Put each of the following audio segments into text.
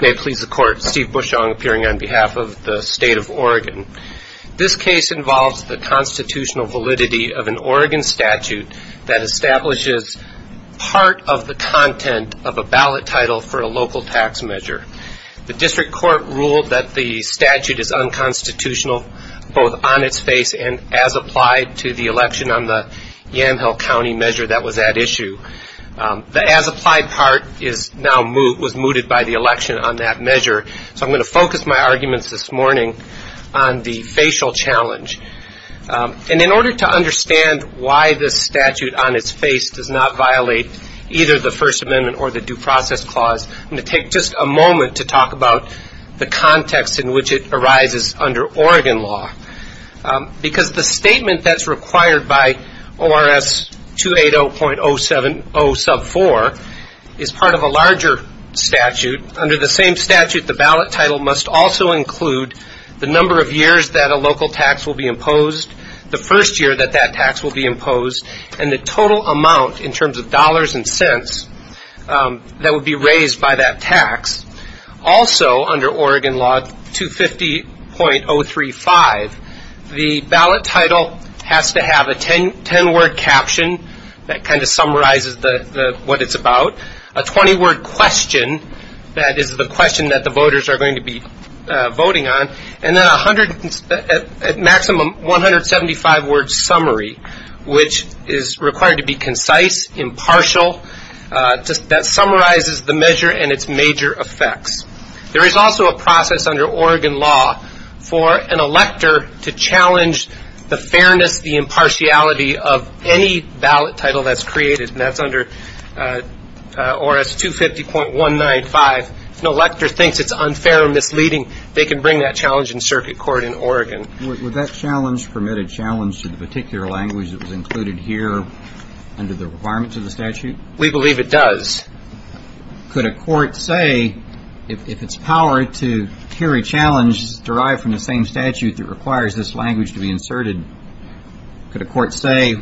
May it please the Court, Steve Bushong appearing on behalf of the State of Oregon. This case involves the constitutional validity of an Oregon statute that establishes part of the content of a ballot title for a local tax measure. The District Court ruled that the statute is unconstitutional, both on its face and as applied to the election on the Yamhill County measure that was at issue. The as applied part was now mooted by the election on that measure. So I'm going to focus my arguments this morning on the facial challenge. And in order to understand why this statute on its face does not violate either the First Amendment or the Due Process Clause, I'm going to take just a moment to talk about the context in which it arises under Oregon law. Because the statement that's required by ORS 280.0704 is part of a larger statute. Under the same statute, the ballot title must also include the number of years that a local tax will be imposed, the first year that that tax will be imposed, and the total amount in terms of dollars and cents that would be raised by that tax. Also, under Oregon law 250.035, the ballot title has to have a 10-word caption that kind of summarizes what it's about, a 20-word question that is the question that the voters are going to be voting on, and then a maximum 175-word summary, which is required to be concise, impartial, that summarizes the measure and its major effects. There is also a process under Oregon law for an elector to challenge the fairness, the impartiality of any ballot title that's created, and that's under ORS 250.195. If an elector thinks it's unfair or misleading, they can bring that challenge in circuit court in Oregon. Would that challenge permit a challenge to the particular language that was included here under the requirements of the statute? We believe it does. Could a court say, if it's power to carry challenges derived from the same statute that requires this language to be inserted, could a court say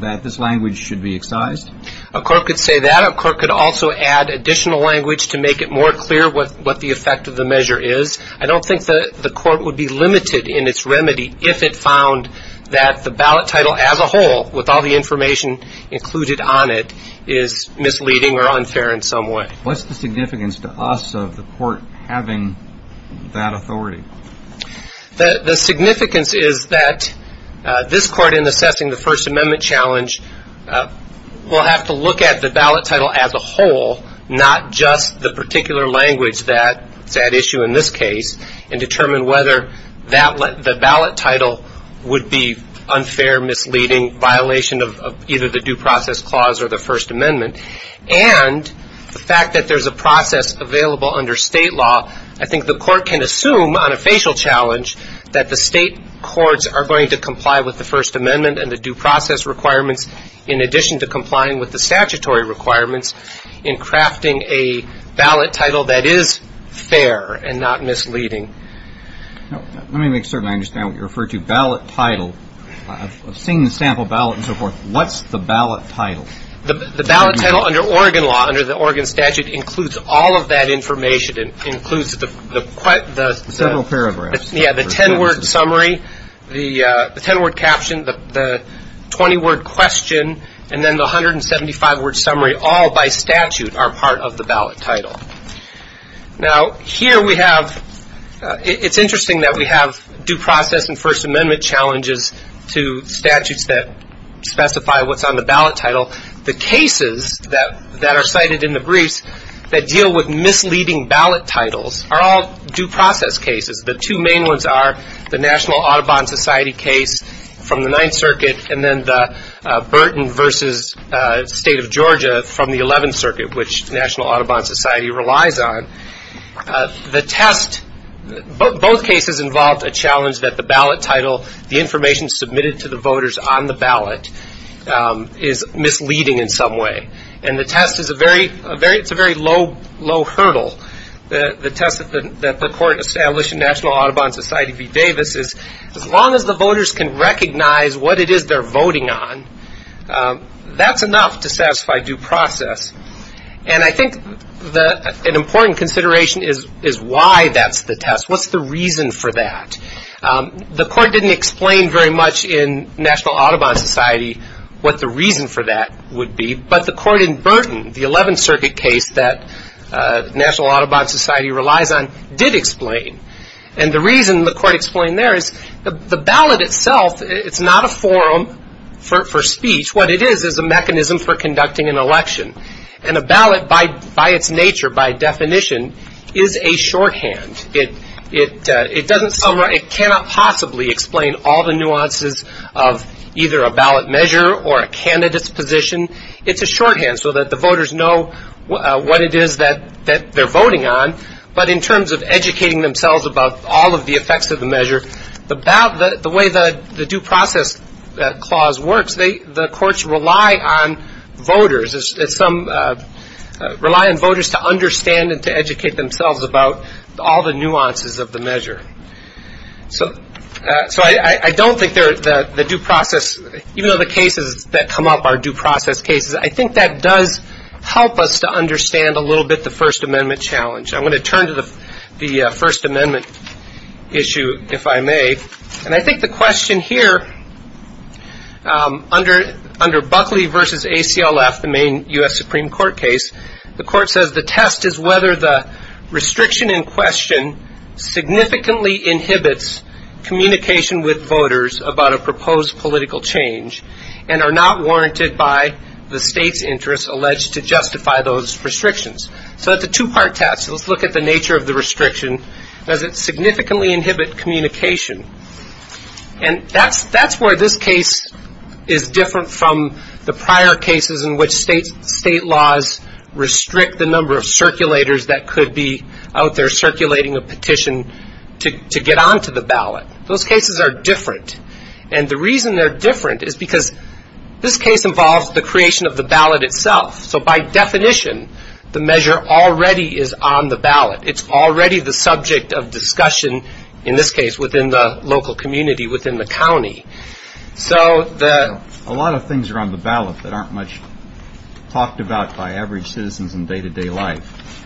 that this language should be excised? A court could say that. A court could also add additional language to make it more clear what the effect of the measure is. I don't think the court would be limited in its remedy if it found that the ballot title as a whole, with all the information included on it, is misleading or unfair in some way. What's the significance to us of the court having that authority? The significance is that this court, in assessing the First Amendment challenge, will have to look at the ballot title as a whole, not just the particular language that's at issue in this case, and determine whether the ballot title would be unfair, misleading, violation of either the Due Process Clause or the First Amendment. And the fact that there's a process available under state law, I think the court can assume on a facial challenge that the state courts are going to comply with the First Amendment and the due process requirements in addition to complying with the statutory requirements in crafting a ballot title that is fair and not misleading. Let me make certain I understand what you refer to, ballot title. I've seen the sample ballot and so forth. What's the ballot title? The ballot title under Oregon law, under the Oregon statute, includes all of that information. It includes the 10-word summary, the 10-word caption, the 20-word question, and then the 175-word summary, all by statute, are part of the ballot title. Now, here we have, it's interesting that we have due process and First Amendment challenges to statutes that specify what's on the ballot title. The cases that are cited in the briefs that deal with misleading ballot titles are all due process cases. The two main ones are the National Audubon Society case from the Ninth Circuit and then the Burton v. State of Georgia from the Eleventh Circuit, which National Audubon Society relies on. The test, both cases involved a challenge that the ballot title, the information submitted to the voters on the ballot is misleading in some way. And the test is a very low hurdle. The test that the court established in National Audubon Society v. Davis is as long as the voters can recognize what it is they're voting on, that's enough to satisfy due process. And I think an important consideration is why that's the test. What's the reason for that? The court didn't explain very much in National Audubon Society what the reason for that would be, but the court in Burton, the Eleventh Circuit case that National Audubon Society relies on did explain. And the reason the court explained there is the ballot itself, it's not a forum for speech. What it is is a mechanism for conducting an election. And a ballot by its nature, by definition, is a shorthand. It doesn't summarize, it cannot possibly explain all the nuances of either a ballot measure or a candidate's position. It's a shorthand so that the voters know what it is that they're voting on. But in terms of educating themselves about all of the effects of the measure, the way the due process clause works, the courts rely on voters to understand and to educate themselves about all the nuances of the measure. So I don't think the due process, even though the cases that come up are due process cases, I think that does help us to understand a little bit the First Amendment issue, if I may. And I think the question here under Buckley v. ACLF, the main U.S. Supreme Court case, the court says the test is whether the restriction in question significantly inhibits communication with voters about a proposed political change and are not warranted by the state's interest alleged to justify those restrictions. And that's where this case is different from the prior cases in which state laws restrict the number of circulators that could be out there circulating a petition to get onto the ballot. Those cases are different. And the reason they're different is because this case involves the creation of the ballot itself. So by definition, the measure already is on the ballot. It's already the subject of discussion in this case within the local community, within the county. A lot of things are on the ballot that aren't much talked about by average citizens in day-to-day life.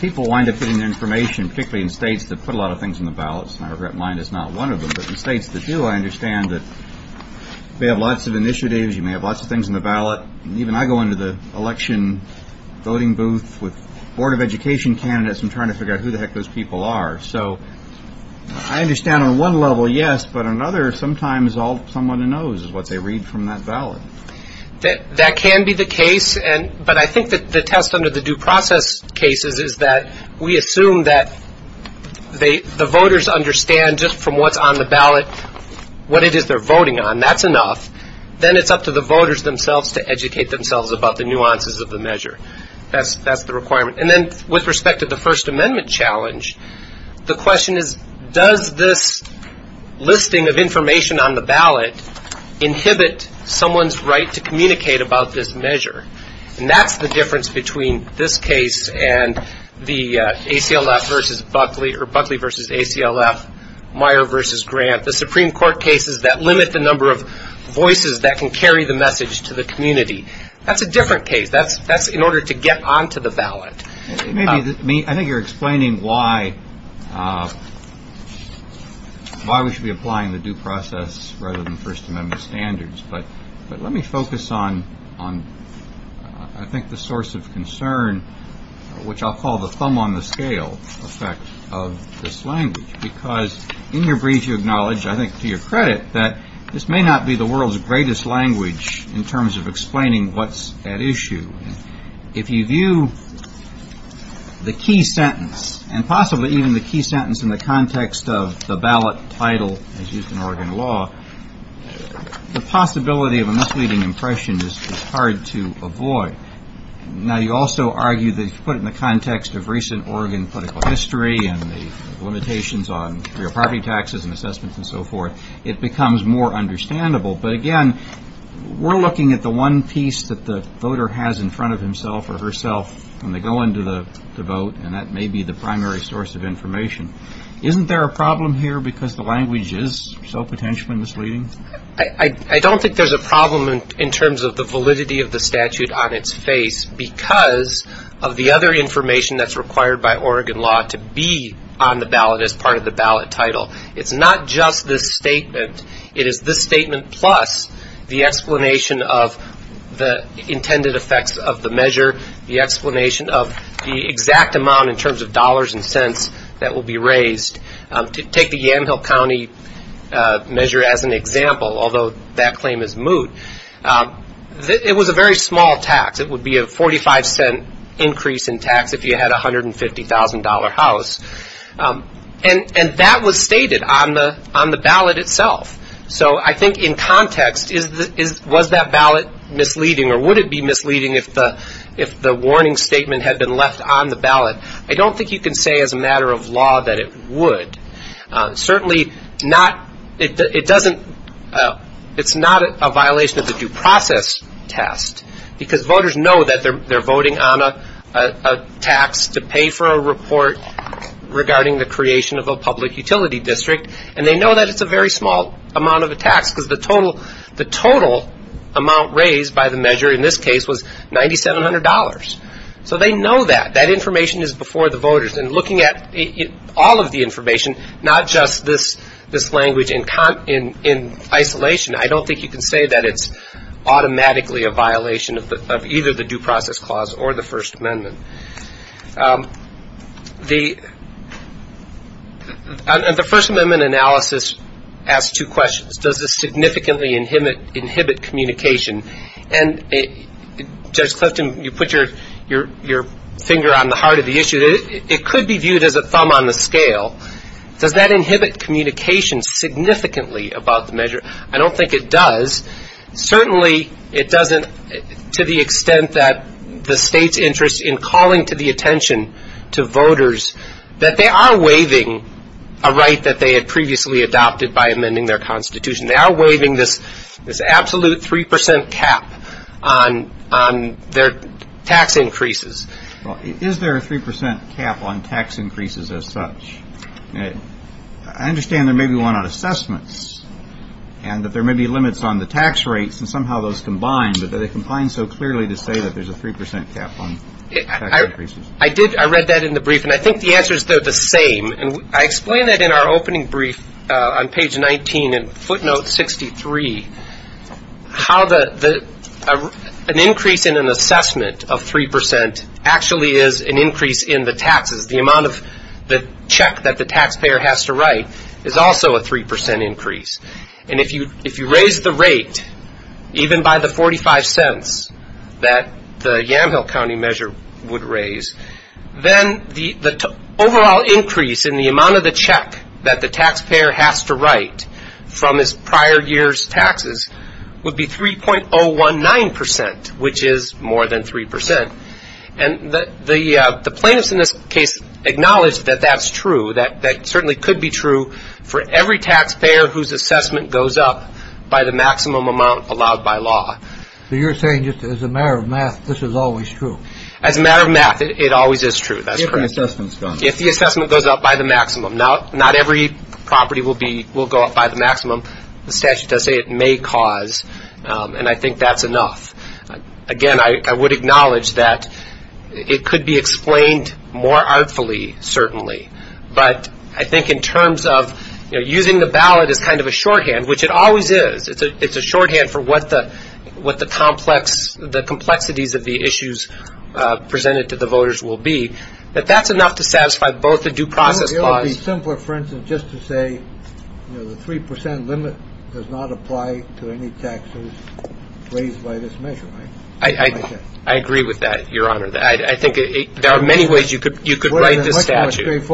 People wind up getting their information, particularly in states that put a lot of things in the ballots. And I regret mine is not one of them. But in states that do, I understand that they have lots of initiatives. You may have lots of things in the ballot. And even I go into the election voting booth with Board of Education candidates and try to figure out who the heck those people are. So I understand on one level, yes. But on another, sometimes all someone knows is what they read from that ballot. That can be the case. But I think that the test under the due process cases is that we assume that the voters understand just from what's on the ballot what it is they're voting on. That's enough. Then it's up to the voters themselves to educate themselves about the nuances of the measure. That's the requirement. And then with respect to the First Amendment challenge, the question is, does this listing of information on the ballot inhibit someone's right to communicate about this measure? And that's the difference between this case and the ACLF versus Buckley or Buckley versus ACLF, Meyer versus Grant, the Supreme Court cases that limit the number of voices that can carry the message to the community. That's a different case. That's in order to get onto the ballot. I think you're explaining why we should be applying the due process rather than First Amendment standards. But let me focus on I think the source of concern, which I'll call the thumb on the scale effect of this language. Because in your brief you acknowledge, I think to your credit, that this may not be the world's greatest language in terms of explaining what's at issue. If you view the key sentence, and possibly even the key sentence in the context of the ballot title as used in Oregon law, the possibility of a misleading impression is hard to avoid. Now you also argue that if you put it in the context of recent Oregon political history and the limitations on real property taxes and assessments and so forth, it becomes more understandable. But again, we're looking at the one piece that the voter has in front of himself or herself when they go into the vote, and that may be the primary source of information. Isn't there a problem here because the language is so potentially misleading? I don't think there's a problem in terms of the validity of the statute on its face because of the other information that's required by Oregon law to be on the ballot as part of the ballot title. It's not just this statement. It is this statement plus the explanation of the intended effects of the measure, the explanation of the exact amount in terms of dollars and cents that will be raised. Take the Yamhill County measure as an example, although that claim is moot. It was a very small tax. It would be a 45 cent increase in tax if you had a $150,000 house. And that was stated on the ballot itself. So I think in context, was that ballot misleading or would it be misleading if the warning statement had been left on the ballot? I don't think you can say as a matter of law that it would. Certainly not, it doesn't, it's not a violation of the due process test because voters know that they're voting on a tax to pay for a report regarding the creation of a public utility district and they know that it's a very small amount of a tax because the total amount raised by the measure in this case was $9,700. So they know that. That information is before the voters and looking at all of the information, not just this language in isolation, I don't think you can say that it's automatically a violation of either the Due Process Clause or the First Amendment. The First Amendment analysis asks two questions. Does this significantly inhibit communication? And Judge Clifton, you put your finger on the heart of the issue. It could be viewed as a thumb on the scale. Does that inhibit communication significantly about the measure? I don't think it does. Certainly it doesn't to the extent that the state's interest in calling to the attention to voters that they are waiving a right that they had previously adopted by amending their Constitution. They are waiving this absolute 3% cap on their tax increases. Is there a 3% cap on tax increases as such? I understand there may be one on assessments and that there may be limits on the tax rates and somehow those combine, but do they combine so clearly to say that there's a 3% cap on tax increases? I read that in the brief and I think the answers are the same. I explained that in our opening brief on page 19 in footnote 63, how an increase in an assessment of 3% actually is an increase in the taxes. The amount of the check that the taxpayer has to write is also a 3% increase. And if you raise the rate, even by the 45 cents that the Yamhill County measure would raise, then the overall increase in the amount of the check that the taxpayer has to write from his prior year's taxes would be 3.019%, which is more than 3%. And the plaintiffs in this case acknowledge that that's true, that certainly could be true for every taxpayer whose assessment goes up by the maximum amount allowed by law. So you're saying just as a matter of math, this is always true? As a matter of math, it always is true. If the assessment goes up by the maximum. Not every property will go up by the maximum. The statute does say it may cause, and I think that's enough. Again, I would acknowledge that it could be explained more artfully, certainly, but I think in terms of using the ballot as kind of a shorthand, which it always is, it's always a good idea to use the ballot as kind of a shorthand. I think it would be simpler, for instance, just to say the 3% limit does not apply to any taxes raised by this measure, right? I agree with that, Your Honor. I think there are many ways you could write this statute.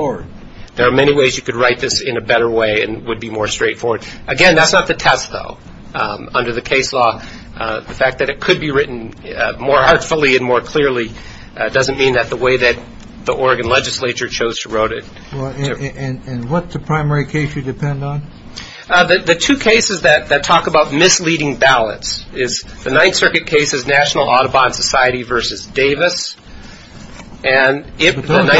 There are many ways you could write this in a better way and it would be more straightforward. Again, that's not the test, though. Under the case law, the fact that it could be written more artfully and more clearly doesn't mean that the way that the Oregon legislature chose to wrote it. And what's the primary case you depend on? The two cases that talk about misleading ballots is the Ninth Circuit cases, National Audubon Society versus Davis. Those aren't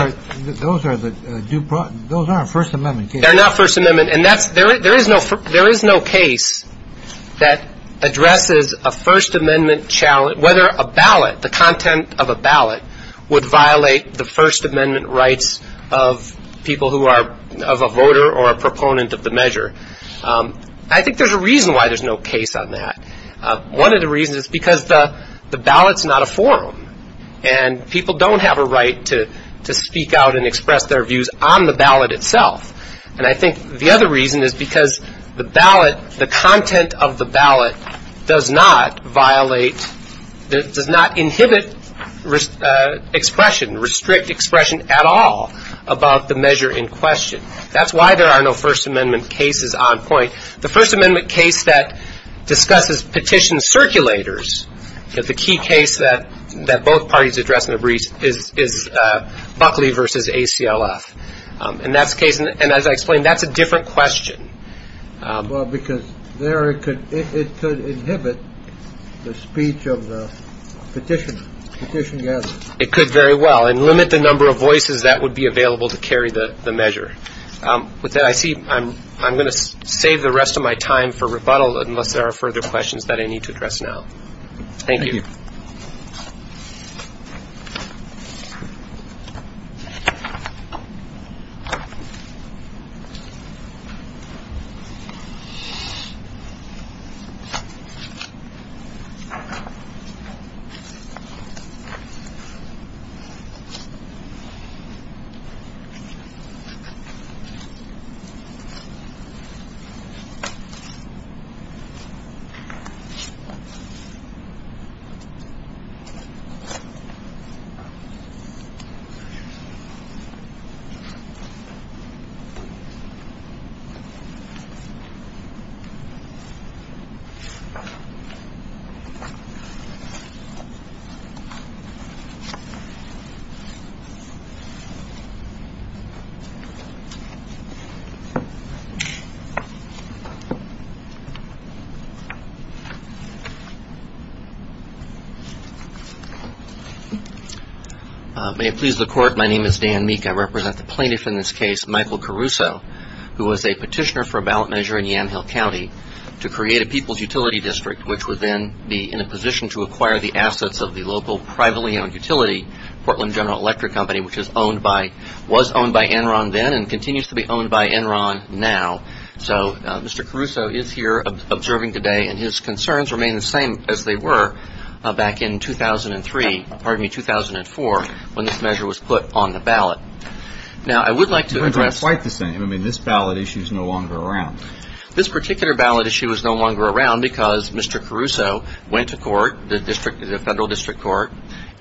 First Amendment cases. They're not First Amendment. And there is no case that addresses a First Amendment challenge, whether a ballot, the content of a ballot, would violate the First Amendment rights of people who are of a voter or a proponent of the measure. I think there's a reason why there's no case on that. One of the reasons is because the ballot's not a forum and people don't have a right to speak out and express their views on the ballot itself. And I think the other reason is because the ballot, the content of the ballot does not violate, does not inhibit expression, restrict expression at all about the measure in question. That's why there are no First Amendment cases on point. The First Amendment case that discusses petition circulators, the key case that both parties address in the brief is Buckley versus ACLF. And that's the case. And as I explained, that's a different question. Well, because there it could inhibit the speech of the petitioners, petition gatherers. It could very well. And limit the number of voices that would be available to carry the measure. With that, I see I'm going to save the rest of my time for rebuttal unless there are further questions that I need to address now. Thank you. Thank you. May it please the court, my name is Dan Meek. I represent the plaintiff in this case, Michael Caruso, who was a petitioner for a ballot measure in Yamhill County to create a people's utility district, which would then be in a position to acquire the assets of the local privately owned utility, Portland General Electric Company, which was owned by Enron then and continues to be owned by Enron now. So Mr. Caruso is here observing today, and his concerns remain the same as they were back in 2003, pardon me, 2004, when this measure was put on the ballot. Now, I would like to address Mr. Caruso's concerns. Mr. Caruso's concerns are quite the same. I mean, this ballot issue is no longer around. This particular ballot issue is no longer around because Mr. Caruso went to court, the federal district court,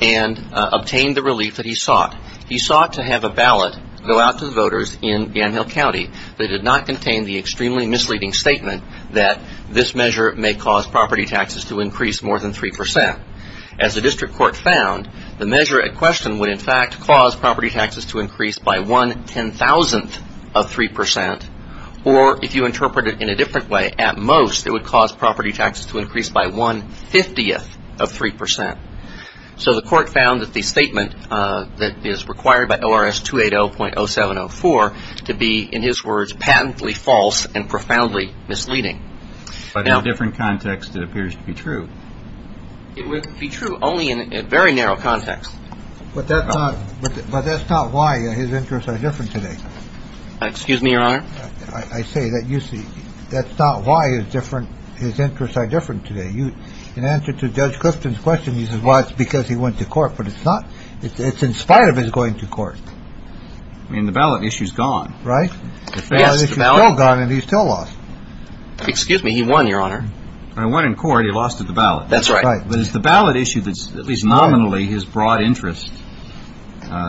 and obtained the relief that he sought. He sought to have a ballot go out to the voters in Yamhill County. They did not contain the extremely misleading statement that this measure may cause property taxes to increase more than 3%. As the district court found, the measure at question would in fact cause property taxes to increase by one ten-thousandth of 3%, or if you interpret it in a different way, at most it would cause property taxes to increase by one fiftieth of 3%. So the court found that the statement that is required by ORS 280.0704 to be, in his words, patently false and profoundly misleading. But in a different context, it appears to be true. It would be true only in a very narrow context. But that's not why his interests are different today. Excuse me, Your Honor. I say that's not why his interests are different today. In answer to Judge Clifton's question, he says, well, it's because he went to court. But it's not. It's in spite of his going to court. I mean, the ballot issue is gone, right? Excuse me, he won, Your Honor. When he won in court, he lost at the ballot. That's right. But it's the ballot issue that's at least nominally his broad interest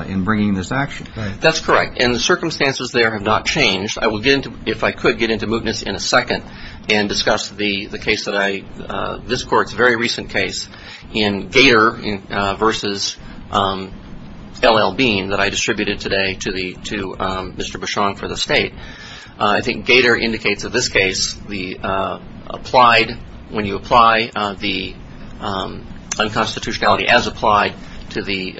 in bringing this action. That's correct. And the circumstances there have not changed. I will get into, if I could, get into mootness in a second and discuss the case that I, this court's very recent case in Gator versus L.L. Bean that I distributed today to Mr. Bichon for the state. I think Gator indicates in this case the applied, when you apply the unconstitutionality as applied to the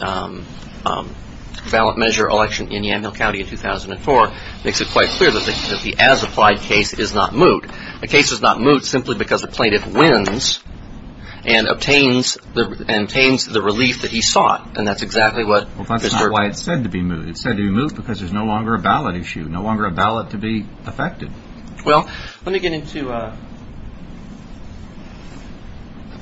ballot measure election in Yamhill County in 2004 makes it quite clear that the as applied case is not moot. The case is not moot simply because the plaintiff wins and obtains the relief that he sought. And that's exactly what That's not why it's said to be moot. It's said to be moot because there's no longer a ballot issue, no longer a ballot to be affected. Well, let me get into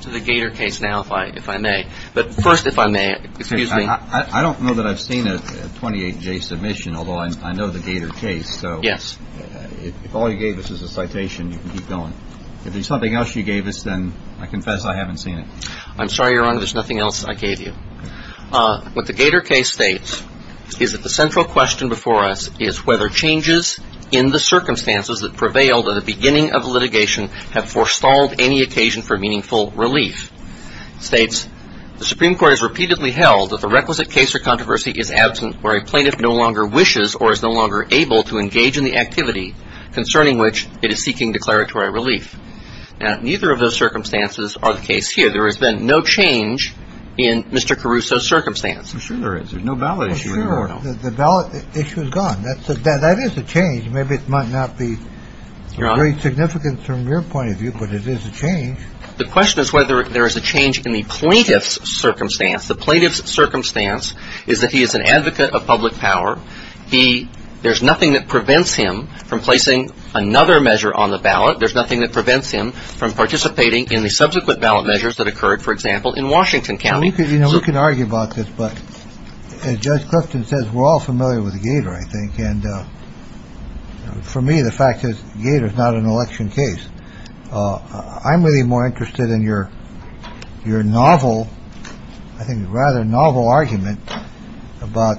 the Gator case now, if I may. But first, if I may, excuse me. I don't know that I've seen a 28-J submission, although I know the Gator case. Yes. If all you gave us is a citation, you can keep going. If there's something else you gave us, then I confess I haven't seen it. I'm sorry you're wrong. There's nothing else I gave you. What the Gator case states is that the central question before us is whether changes in the circumstances that prevailed at the beginning of litigation have forestalled any meaningful relief. It states the Supreme Court has repeatedly held that the requisite case or controversy is absent where a plaintiff no longer wishes or is no longer able to engage in the activity concerning which it is seeking declaratory relief. Now, neither of those circumstances are the case here. There has been no change in Mr. Caruso's circumstance. I'm sure there is. There's no ballot issue in the world. The ballot issue is gone. That is a change. Maybe it might not be very significant from your point of view, but it is a change. The question is whether there is a change in the plaintiff's circumstance. The plaintiff's circumstance is that he is an advocate of public power. There's nothing that prevents him from placing another measure on the ballot. There's nothing that prevents him from participating in the subsequent ballot measures that occurred, for example, in Washington County. We can argue about this, but as Judge Clifton says, we're all familiar with the Gator, I think. And for me, the fact is Gator is not an election case. I'm really more interested in your your novel, I think rather novel argument about,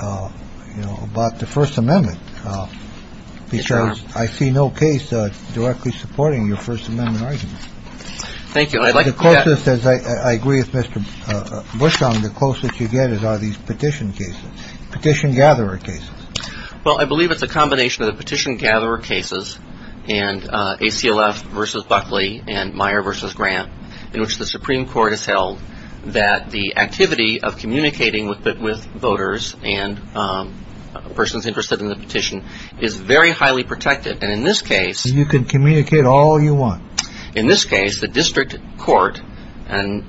you know, about the First Amendment, because I see no case directly supporting your First Amendment argument. Thank you. I agree with Mr. Bush on the closest you get is all these petition cases, petition gatherer cases. Well, I believe it's a combination of the petition gatherer cases and a CLF versus Buckley and Meyer versus Grant in which the Supreme Court has held that the activity of communicating with voters and persons interested in the petition is very highly protected. And in this case, you can communicate all you want. In this case, the district court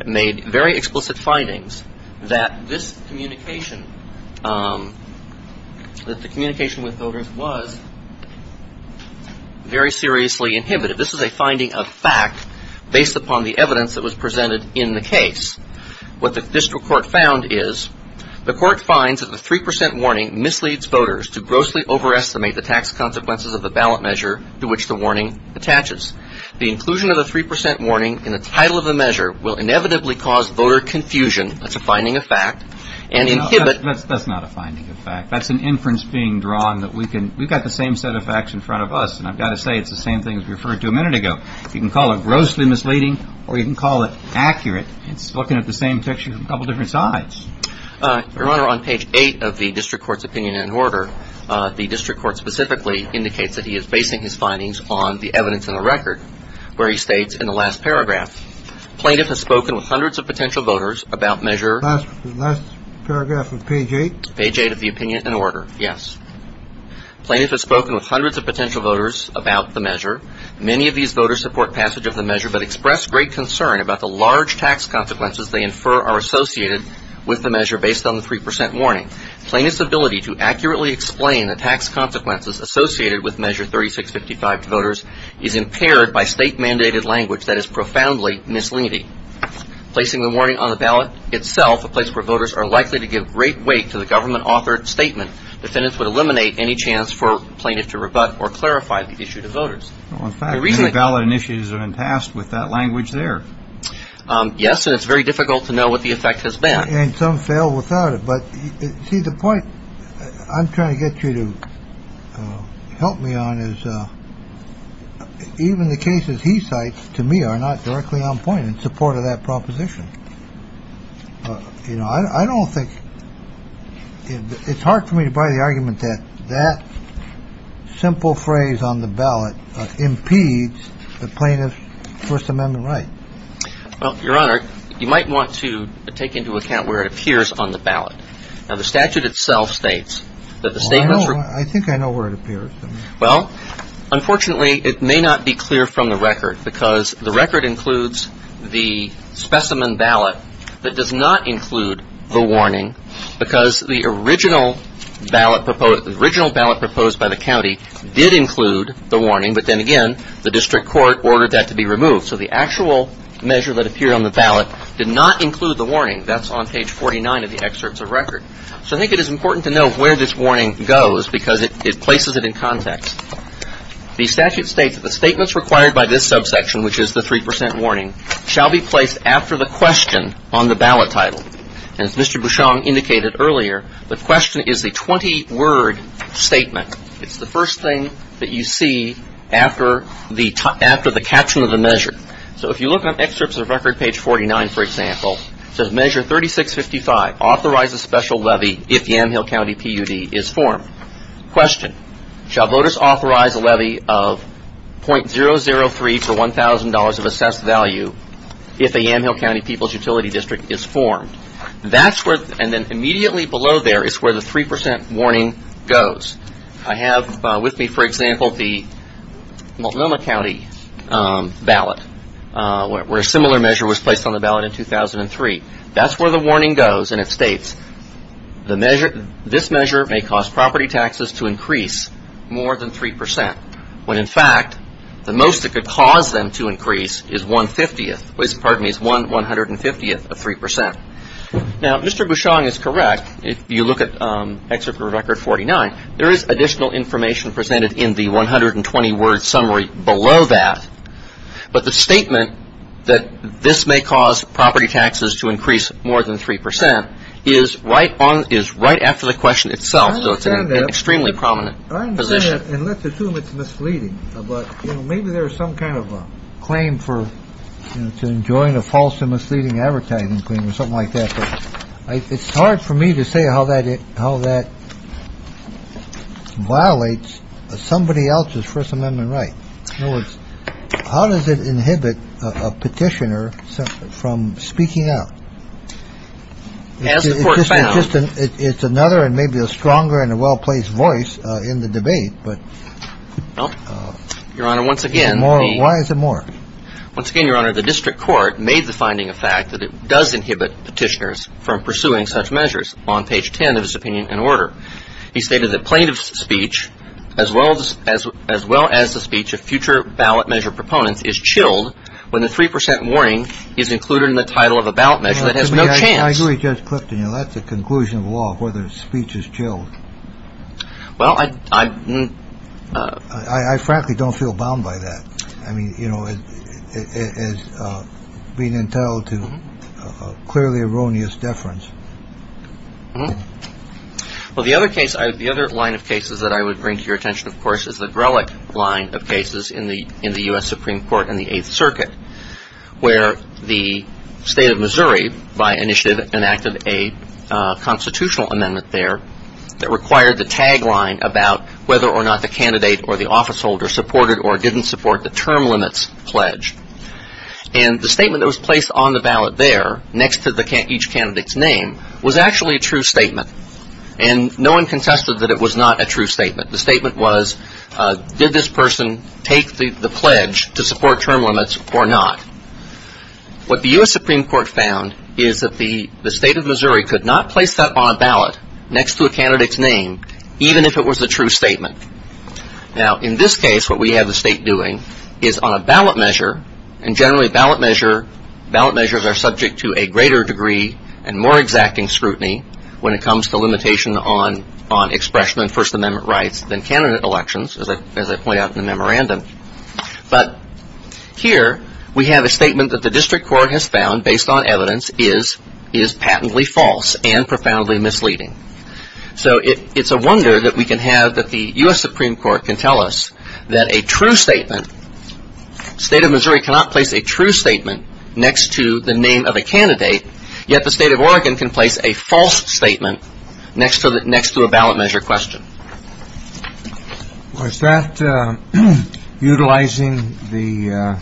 made very explicit findings that this communication that the communication with voters was very seriously inhibited. This is a finding of fact based upon the evidence that was presented in the case. What the district court found is the court finds that the three percent warning misleads voters to grossly overestimate the tax consequences of the ballot measure to which the warning attaches. The inclusion of the three percent warning in the title of the measure will inevitably cause voter confusion. That's a finding of fact. And that's not a finding of fact. That's an inference being drawn that we can we've got the same set of facts in front of us. And I've got to say it's the same thing as referred to a minute ago. You can call it grossly misleading or you can call it accurate. It's looking at the same picture from a couple different sides. Your Honor, on page eight of the district court's opinion and order, the district court specifically indicates that he is basing his findings on the evidence in the record where he states in the last paragraph plaintiff has spoken with hundreds of potential voters about measure. Last paragraph of page eight. Page eight of the opinion and order. Yes. Plaintiff has spoken with hundreds of potential voters about the tax consequences they infer are associated with the measure based on the three percent warning. Plaintiff's ability to accurately explain the tax consequences associated with measure 3655 to voters is impaired by state mandated language that is profoundly misleading. Placing the warning on the ballot itself, a place where voters are likely to give great weight to the government authored statement, defendants would eliminate any chance for plaintiff to rebut or clarify the issue to voters. In fact, ballot initiatives are in task with that language there. Yes. It's very difficult to know what the effect has been. And some fail without it. But the point I'm trying to get you to help me on is even the cases he cites to me are not directly on point in support of that proposition. I don't think it's hard for me to buy the argument that that simple phrase on the ballot impedes the plaintiff's First Amendment right. Well, Your Honor, you might want to take into account where it appears on the ballot. Now, the statute itself states that the statement. I think I know where it appears. Well, unfortunately, it may not be clear from the record because the record includes the specimen ballot that does not include the warning because the original ballot proposed by the county did include the warning. But then again, the district court ordered that to be removed. So the actual measure that appeared on the ballot did not include the warning. That's on page 49 of the excerpts of record. So I think it is important to know where this warning goes because it places it in context. The statute states that the statements required by this subsection, which is the 3 percent warning, shall be The question is the 20-word statement. It's the first thing that you see after the caption of the measure. So if you look at excerpts of record, page 49, for example, it says measure 3655, authorize a special levy if Yamhill County PUD is formed. Question, shall voters authorize a levy of .003 for $1,000 of assessed value if a Yamhill County PUD is formed. And then immediately below there is where the 3 percent warning goes. I have with me, for example, the Multnomah County ballot where a similar measure was placed on the ballot in 2003. That's where the warning goes and it states this measure may cause property taxes to increase more than 3 percent when in fact the most it could cause them to increase is 1 50th, pardon me, is 1 150th of 3 percent. Now, Mr. Bushong is correct. If you look at excerpt from record 49, there is additional information presented in the 120-word summary below that. But the statement that this may cause property taxes to increase more than 3 percent is right after the question itself. So it's an extremely prominent position. Well, your Honor, once again the district court made the finding of fact that it does inhibit petitioners from pursuing such measures. On page 10 of his opinion and order, he stated that plaintiff's speech as well as the speech of future ballot measure proponents is chilled when the 3 percent warning is included in the title of a ballot measure that has no chance I agree with Judge Clifton. You know, that's a conclusion of law, whether speech is chilled. Well, I frankly don't feel bound by that. I mean, you know, it is being entitled to clearly erroneous deference. Well, the other case, the other line of cases that I would bring to your attention, of course, is the Grelick line of cases in the U.S. Supreme Court and the Eighth Circuit where the state of Missouri by initiative enacted a constitutional amendment there that required the tagline about whether or not the candidate or the office holder supported or didn't support the term limits pledge. And the statement that was placed on the ballot there next to each candidate's name was actually a true statement. And no one contested that it was not a true statement. Now, in this case, what we have the state doing is on a ballot measure and generally ballot measure, ballot measures are subject to a greater degree and more exacting scrutiny when it comes to limitation on expression and First Amendment rights than candidate elections, as I point out in the memorandum. But here we have a statement that the district court has found based on evidence is patently false and profoundly misleading. So it's a wonder that we can have that the U.S. Supreme Court can tell us that a true statement, state of Missouri cannot place a true statement next to the name of a candidate, yet the state of Oregon can place a false statement next to a ballot measure question. Was that utilizing the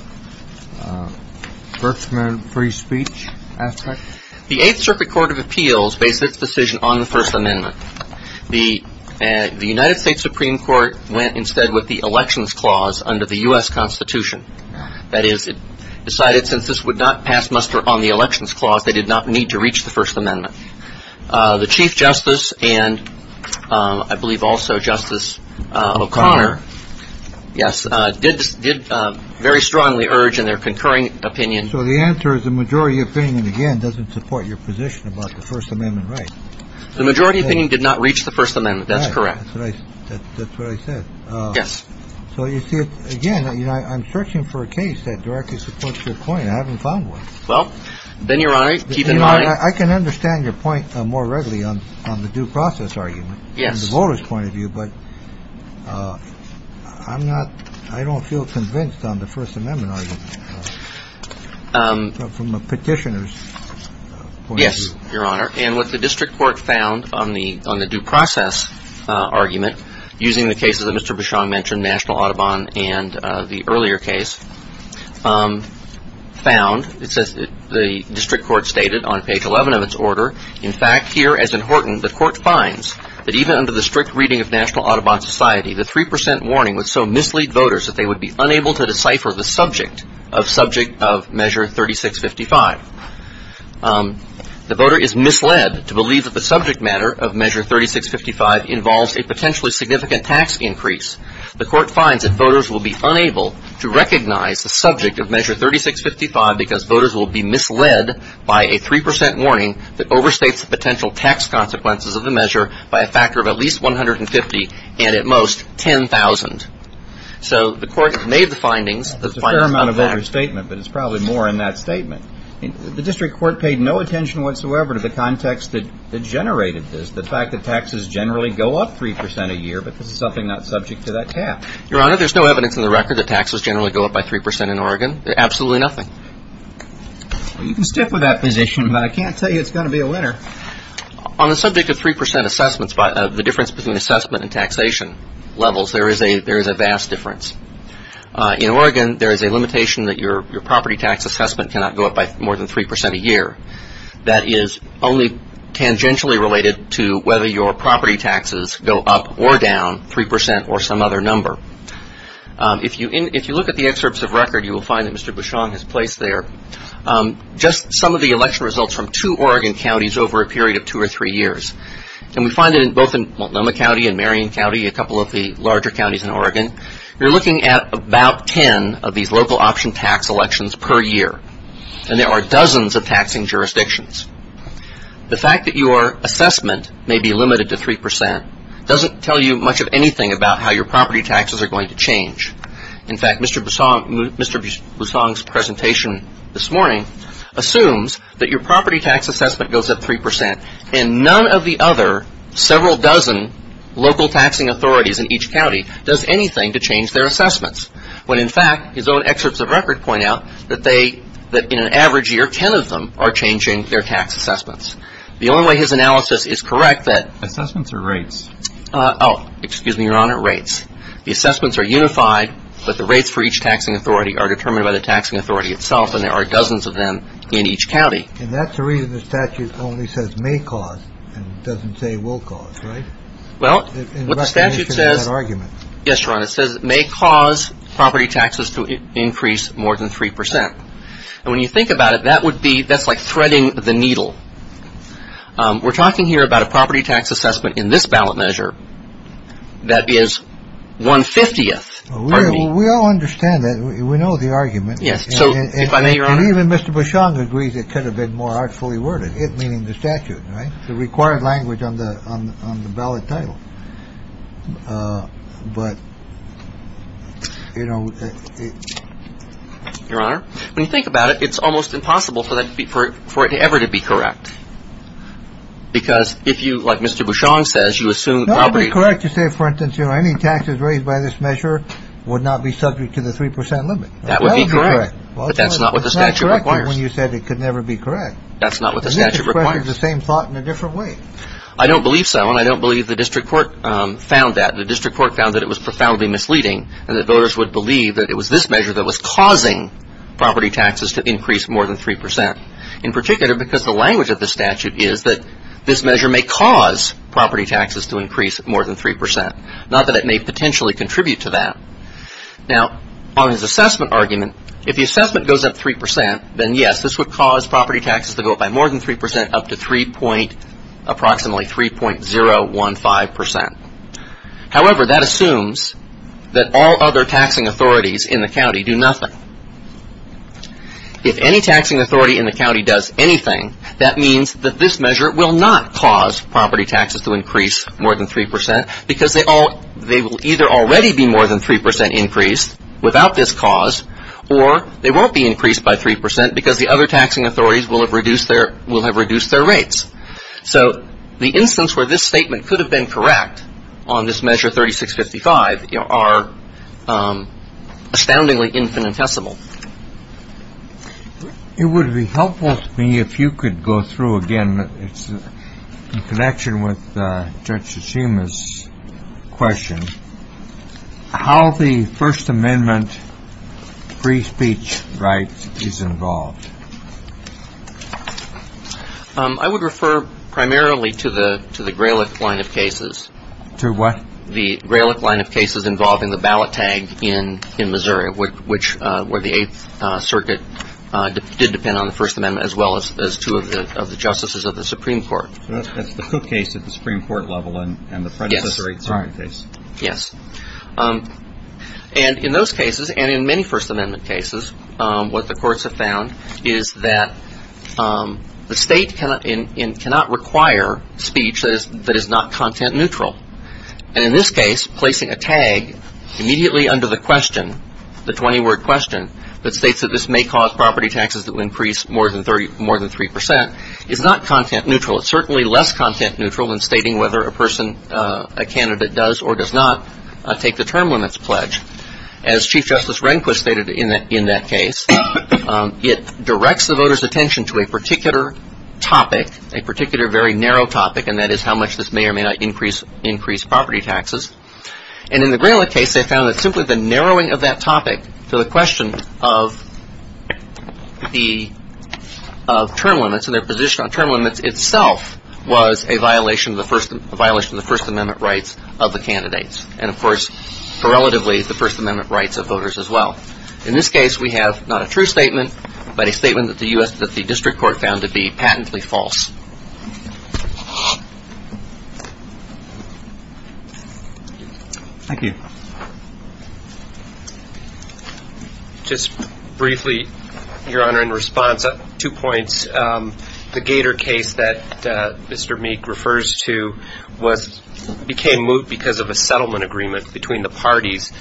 First Amendment free speech aspect? The Eighth Circuit Court of Appeals based its decision on the First Amendment. The United States Supreme Court went instead with the elections clause under the U.S. Constitution. That is, it decided since this would not pass muster on the elections clause, they did not need to reach the First Amendment. The Chief Justice and I believe also Justice O'Connor, yes, did very strongly urge in their concurring opinion. So the answer is the majority opinion, again, doesn't support your position about the First Amendment right. The majority opinion did not reach the First Amendment. That's correct. That's what I said. Yes. So you see it again. I'm searching for a case that directly supports your point. I haven't found one. Well, then, Your Honor, keep in mind. I can understand your point more readily on the due process argument. Yes. From the voters' point of view. But I'm not I don't feel convinced on the First Amendment argument. From a petitioner's point of view. Yes, Your Honor. And what the district court found on the on the due process argument using the cases that Mr. Bushong mentioned, National Audubon and the earlier case found it says the district court stated on page 11 of its order. In fact, here, as important, the court finds that even under the strict reading of National Audubon Society, the 3 percent warning would so mislead voters that they would be unable to decipher the subject of subject of measure thirty six fifty five. The voter is misled to believe that the subject matter of measure thirty six fifty five involves a potentially significant tax increase. The court finds that voters will be unable to recognize the subject of measure thirty six fifty five because voters will be misled by a 3 percent warning that overstates the potential tax consequences of the measure by a factor of at least one hundred and fifty and at most ten thousand. So the court made the findings. That's a fair amount of overstatement, but it's probably more in that statement. The district court paid no attention whatsoever to the context that generated this. The fact that taxes generally go up 3 percent a year, but this is something not subject to that cap. Your Honor, there's no evidence in the record that taxes generally go up by 3 percent in Oregon. Absolutely nothing. You can stick with that position, but I can't tell you it's going to be a winner. On the subject of 3 percent assessments, the difference between assessment and taxation levels, there is a vast difference. In Oregon, there is a limitation that your property tax assessment cannot go up by more than 3 percent a year. That is only tangentially related to whether your property taxes go up or down 3 percent or some other number. If you look at the excerpts of record, you will find that Mr. Bussong's assessment goes up 3 percent a year for a period of two or three years. And we find it both in Multnomah County and Marion County, a couple of the larger counties in Oregon. You're looking at about ten of these local option tax elections per year. And there are dozens of taxing jurisdictions. The fact that your assessment may be limited to 3 percent doesn't tell you much of anything about how your property taxes are going to change. In fact, Mr. Bussong's presentation this morning assumes that your property tax assessment goes up 3 percent, and none of the other several dozen local taxing authorities in each county does anything to change their assessments. When in fact, his own excerpts of record point out that in an average year, ten of them are changing their tax assessments. The only way his analysis is correct that assessments are rates. Oh, excuse me, Your Honor. Rates. The assessments are unified, but the rates for each taxing authority are determined by the taxing authority itself. And there are dozens of them in each county. And that's the reason the statute only says may cause and doesn't say will cause. Right. Well, what the statute says argument. Yes, Your Honor. It says it may cause property taxes to increase more than 3 percent. And when you think about it, that would be that's like threading the needle. We're talking here about a property tax assessment in this ballot measure that is one fiftieth. We all understand that. We know the argument. Yes. So if I may, Your Honor, even Mr. Bussong agrees it could have been more artfully worded. It meaning the statute. Right. The required language on the ballot title. But, you know, Your Honor, when you think about it, it's almost impossible for that for it ever to be correct, because if you like Mr. Bussong says you assume the property. Correct. You say, for instance, you know, any taxes raised by this measure would not be subject to the 3 percent limit. That would be correct. But that's not what the statute requires. When you said it could never be correct. That's not what the statute requires. The same thought in a different way. I don't believe so. And I don't believe the district court found that the district court found that it was profoundly misleading and that voters would believe that it was this measure that was causing property taxes to increase more than 3 percent in particular, because the language of the statute is that this measure may cause property taxes to increase more than 3 percent, not that it may potentially contribute to that. Now, on his assessment argument, if the assessment goes up 3 percent, then yes, this would cause property taxes to go up by more than 3 percent, up to approximately 3.015 percent. However, that assumes that all other taxing authorities in the county do nothing. If any taxing authority in the county does anything, that means that this measure will not cause property taxes to increase more than 3 percent, because they will either already be more than 3 percent increased without this cause, or they won't be increased by 3 percent because the other taxing authorities will have reduced their rates. So the instance where this statement could have been correct on this measure 3655 are astoundingly infinitesimal. It would be helpful to me if you could go through again, in connection with Judge Graylick. I would refer primarily to the Graylick line of cases. To what? The Graylick line of cases involving the ballot tag in Missouri, which where the Eighth Circuit did depend on the First Amendment, as well as two of the justices of the Supreme Court. So that's the Cook case at the Supreme Court level and the First Amendment cases, what the courts have found is that the state cannot require speech that is not content neutral. And in this case, placing a tag immediately under the question, the 20-word question, that states that this may cause property taxes to increase more than 3 percent is not content neutral. It's certainly less content neutral than stating whether a person, a person is entitled to a certain amount of property taxes. As Chief Justice Rehnquist stated in that case, it directs the voters' attention to a particular topic, a particular very narrow topic, and that is how much this may or may not increase property taxes. And in the Graylick case, they found that simply the narrowing of that topic to the question of the term limits and their position on term limits itself was a violation of the First Amendment rights of the candidates. And of course, correlatively, the First Amendment rights of voters as well. In this case, we have not a true statement, but a statement that the District Court found to be patently false. Thank you. Just briefly, Your Honor, in response, two points. The Gator case that Mr. Meek refers to became moot because of a settlement agreement between the parties.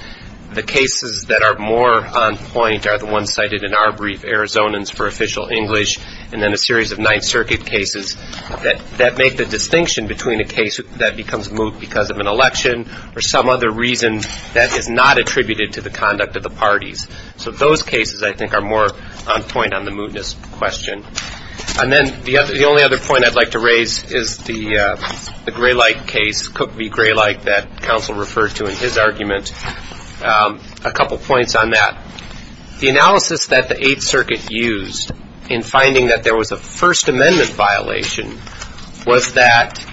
The cases that are more on point are the ones cited in our brief, Arizonans for Official English, and then a series of Ninth Circuit cases that make the distinction between a case that becomes moot because of an election or some other reason that is not attributed to the conduct of the parties. So those cases, I think, are more on point on the mootness question. And then the only other point I'd like to raise is the Graylick case, Cook v. Graylick, that counsel referred to in his argument. A couple points on that. The analysis that the Eighth Circuit used in finding that there was a First Amendment violation was that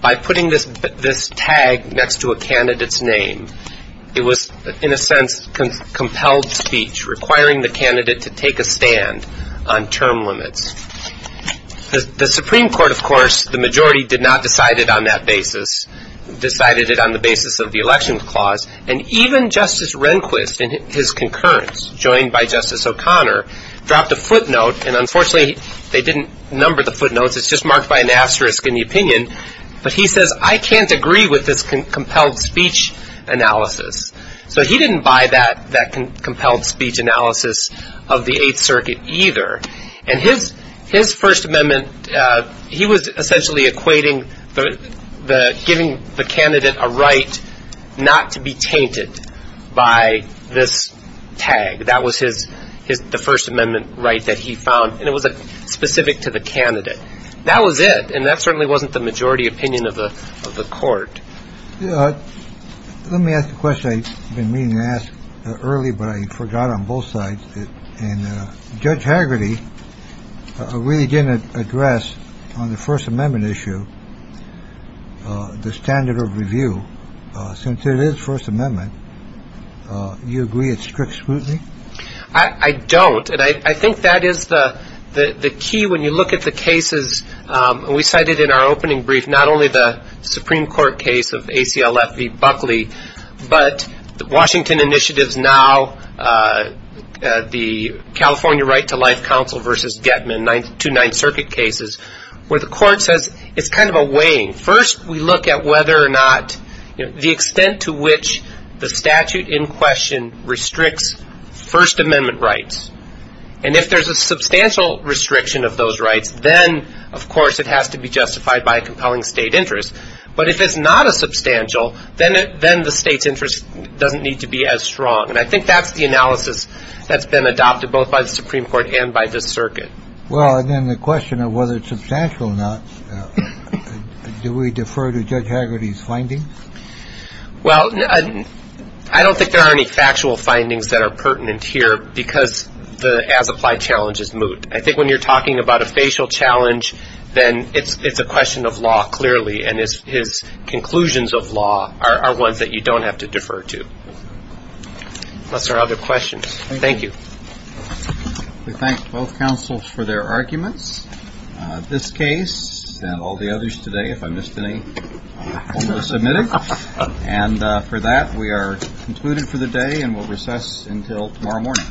by putting this tag next to a candidate's name, it was, in a sense, compelled speech, requiring the candidate to take a stand on term limits. The Supreme Court, of course, the majority did not decide it on that basis, decided it on the basis of the election clause. And even Justice Graylick did not buy that footnote. And unfortunately, they didn't number the footnotes. It's just marked by an asterisk in the opinion. But he says, I can't agree with this compelled speech analysis. So he didn't buy that compelled speech analysis of the Eighth Circuit either. And his First Amendment, he was essentially equating the giving the candidate a right not to be tainted by this tag. That was his his the First Amendment right that he found. And it was specific to the candidate. That was it. And that certainly wasn't the majority opinion of the of the court. Let me ask the question. I've been meaning to ask early, but I forgot on both sides. And Judge Hagerty really didn't address on the First Amendment issue the standard of review. Since it is First Amendment, you agree it's strict scrutiny? I don't. And I think that is the key. When you look at the cases we cited in our opening brief, not only the Supreme Court case of ACLF v. Buckley, but the Washington initiatives now, the California Right to Life Council v. Getman, two Ninth Circuit cases, where the court says it's kind of a weighing. First, we look at whether or not the extent to which the statute in question restricts First Amendment rights. And if there's a substantial restriction of those rights, then, of course, it has to be justified by compelling state interest. But if it's not a substantial, then the state's interest doesn't need to be as strong. And I think that's the analysis that's been adopted both by the Supreme Court and by the circuit. Well, and then the question of whether it's substantial or not, do we defer to Judge Hagerty's findings? Well, I don't think there are any factual findings that are pertinent here because the as-applied challenge is moot. I think when you're talking about a facial challenge, then it's a question of law clearly, and his conclusions of law are ones that you don't have to defer to. Unless there are other questions. Thank you. We thank both counsels for their arguments. This case and all the others today, if I missed any, will be submitted. And for that, we are concluded for the day and will recess until tomorrow morning. Thank you.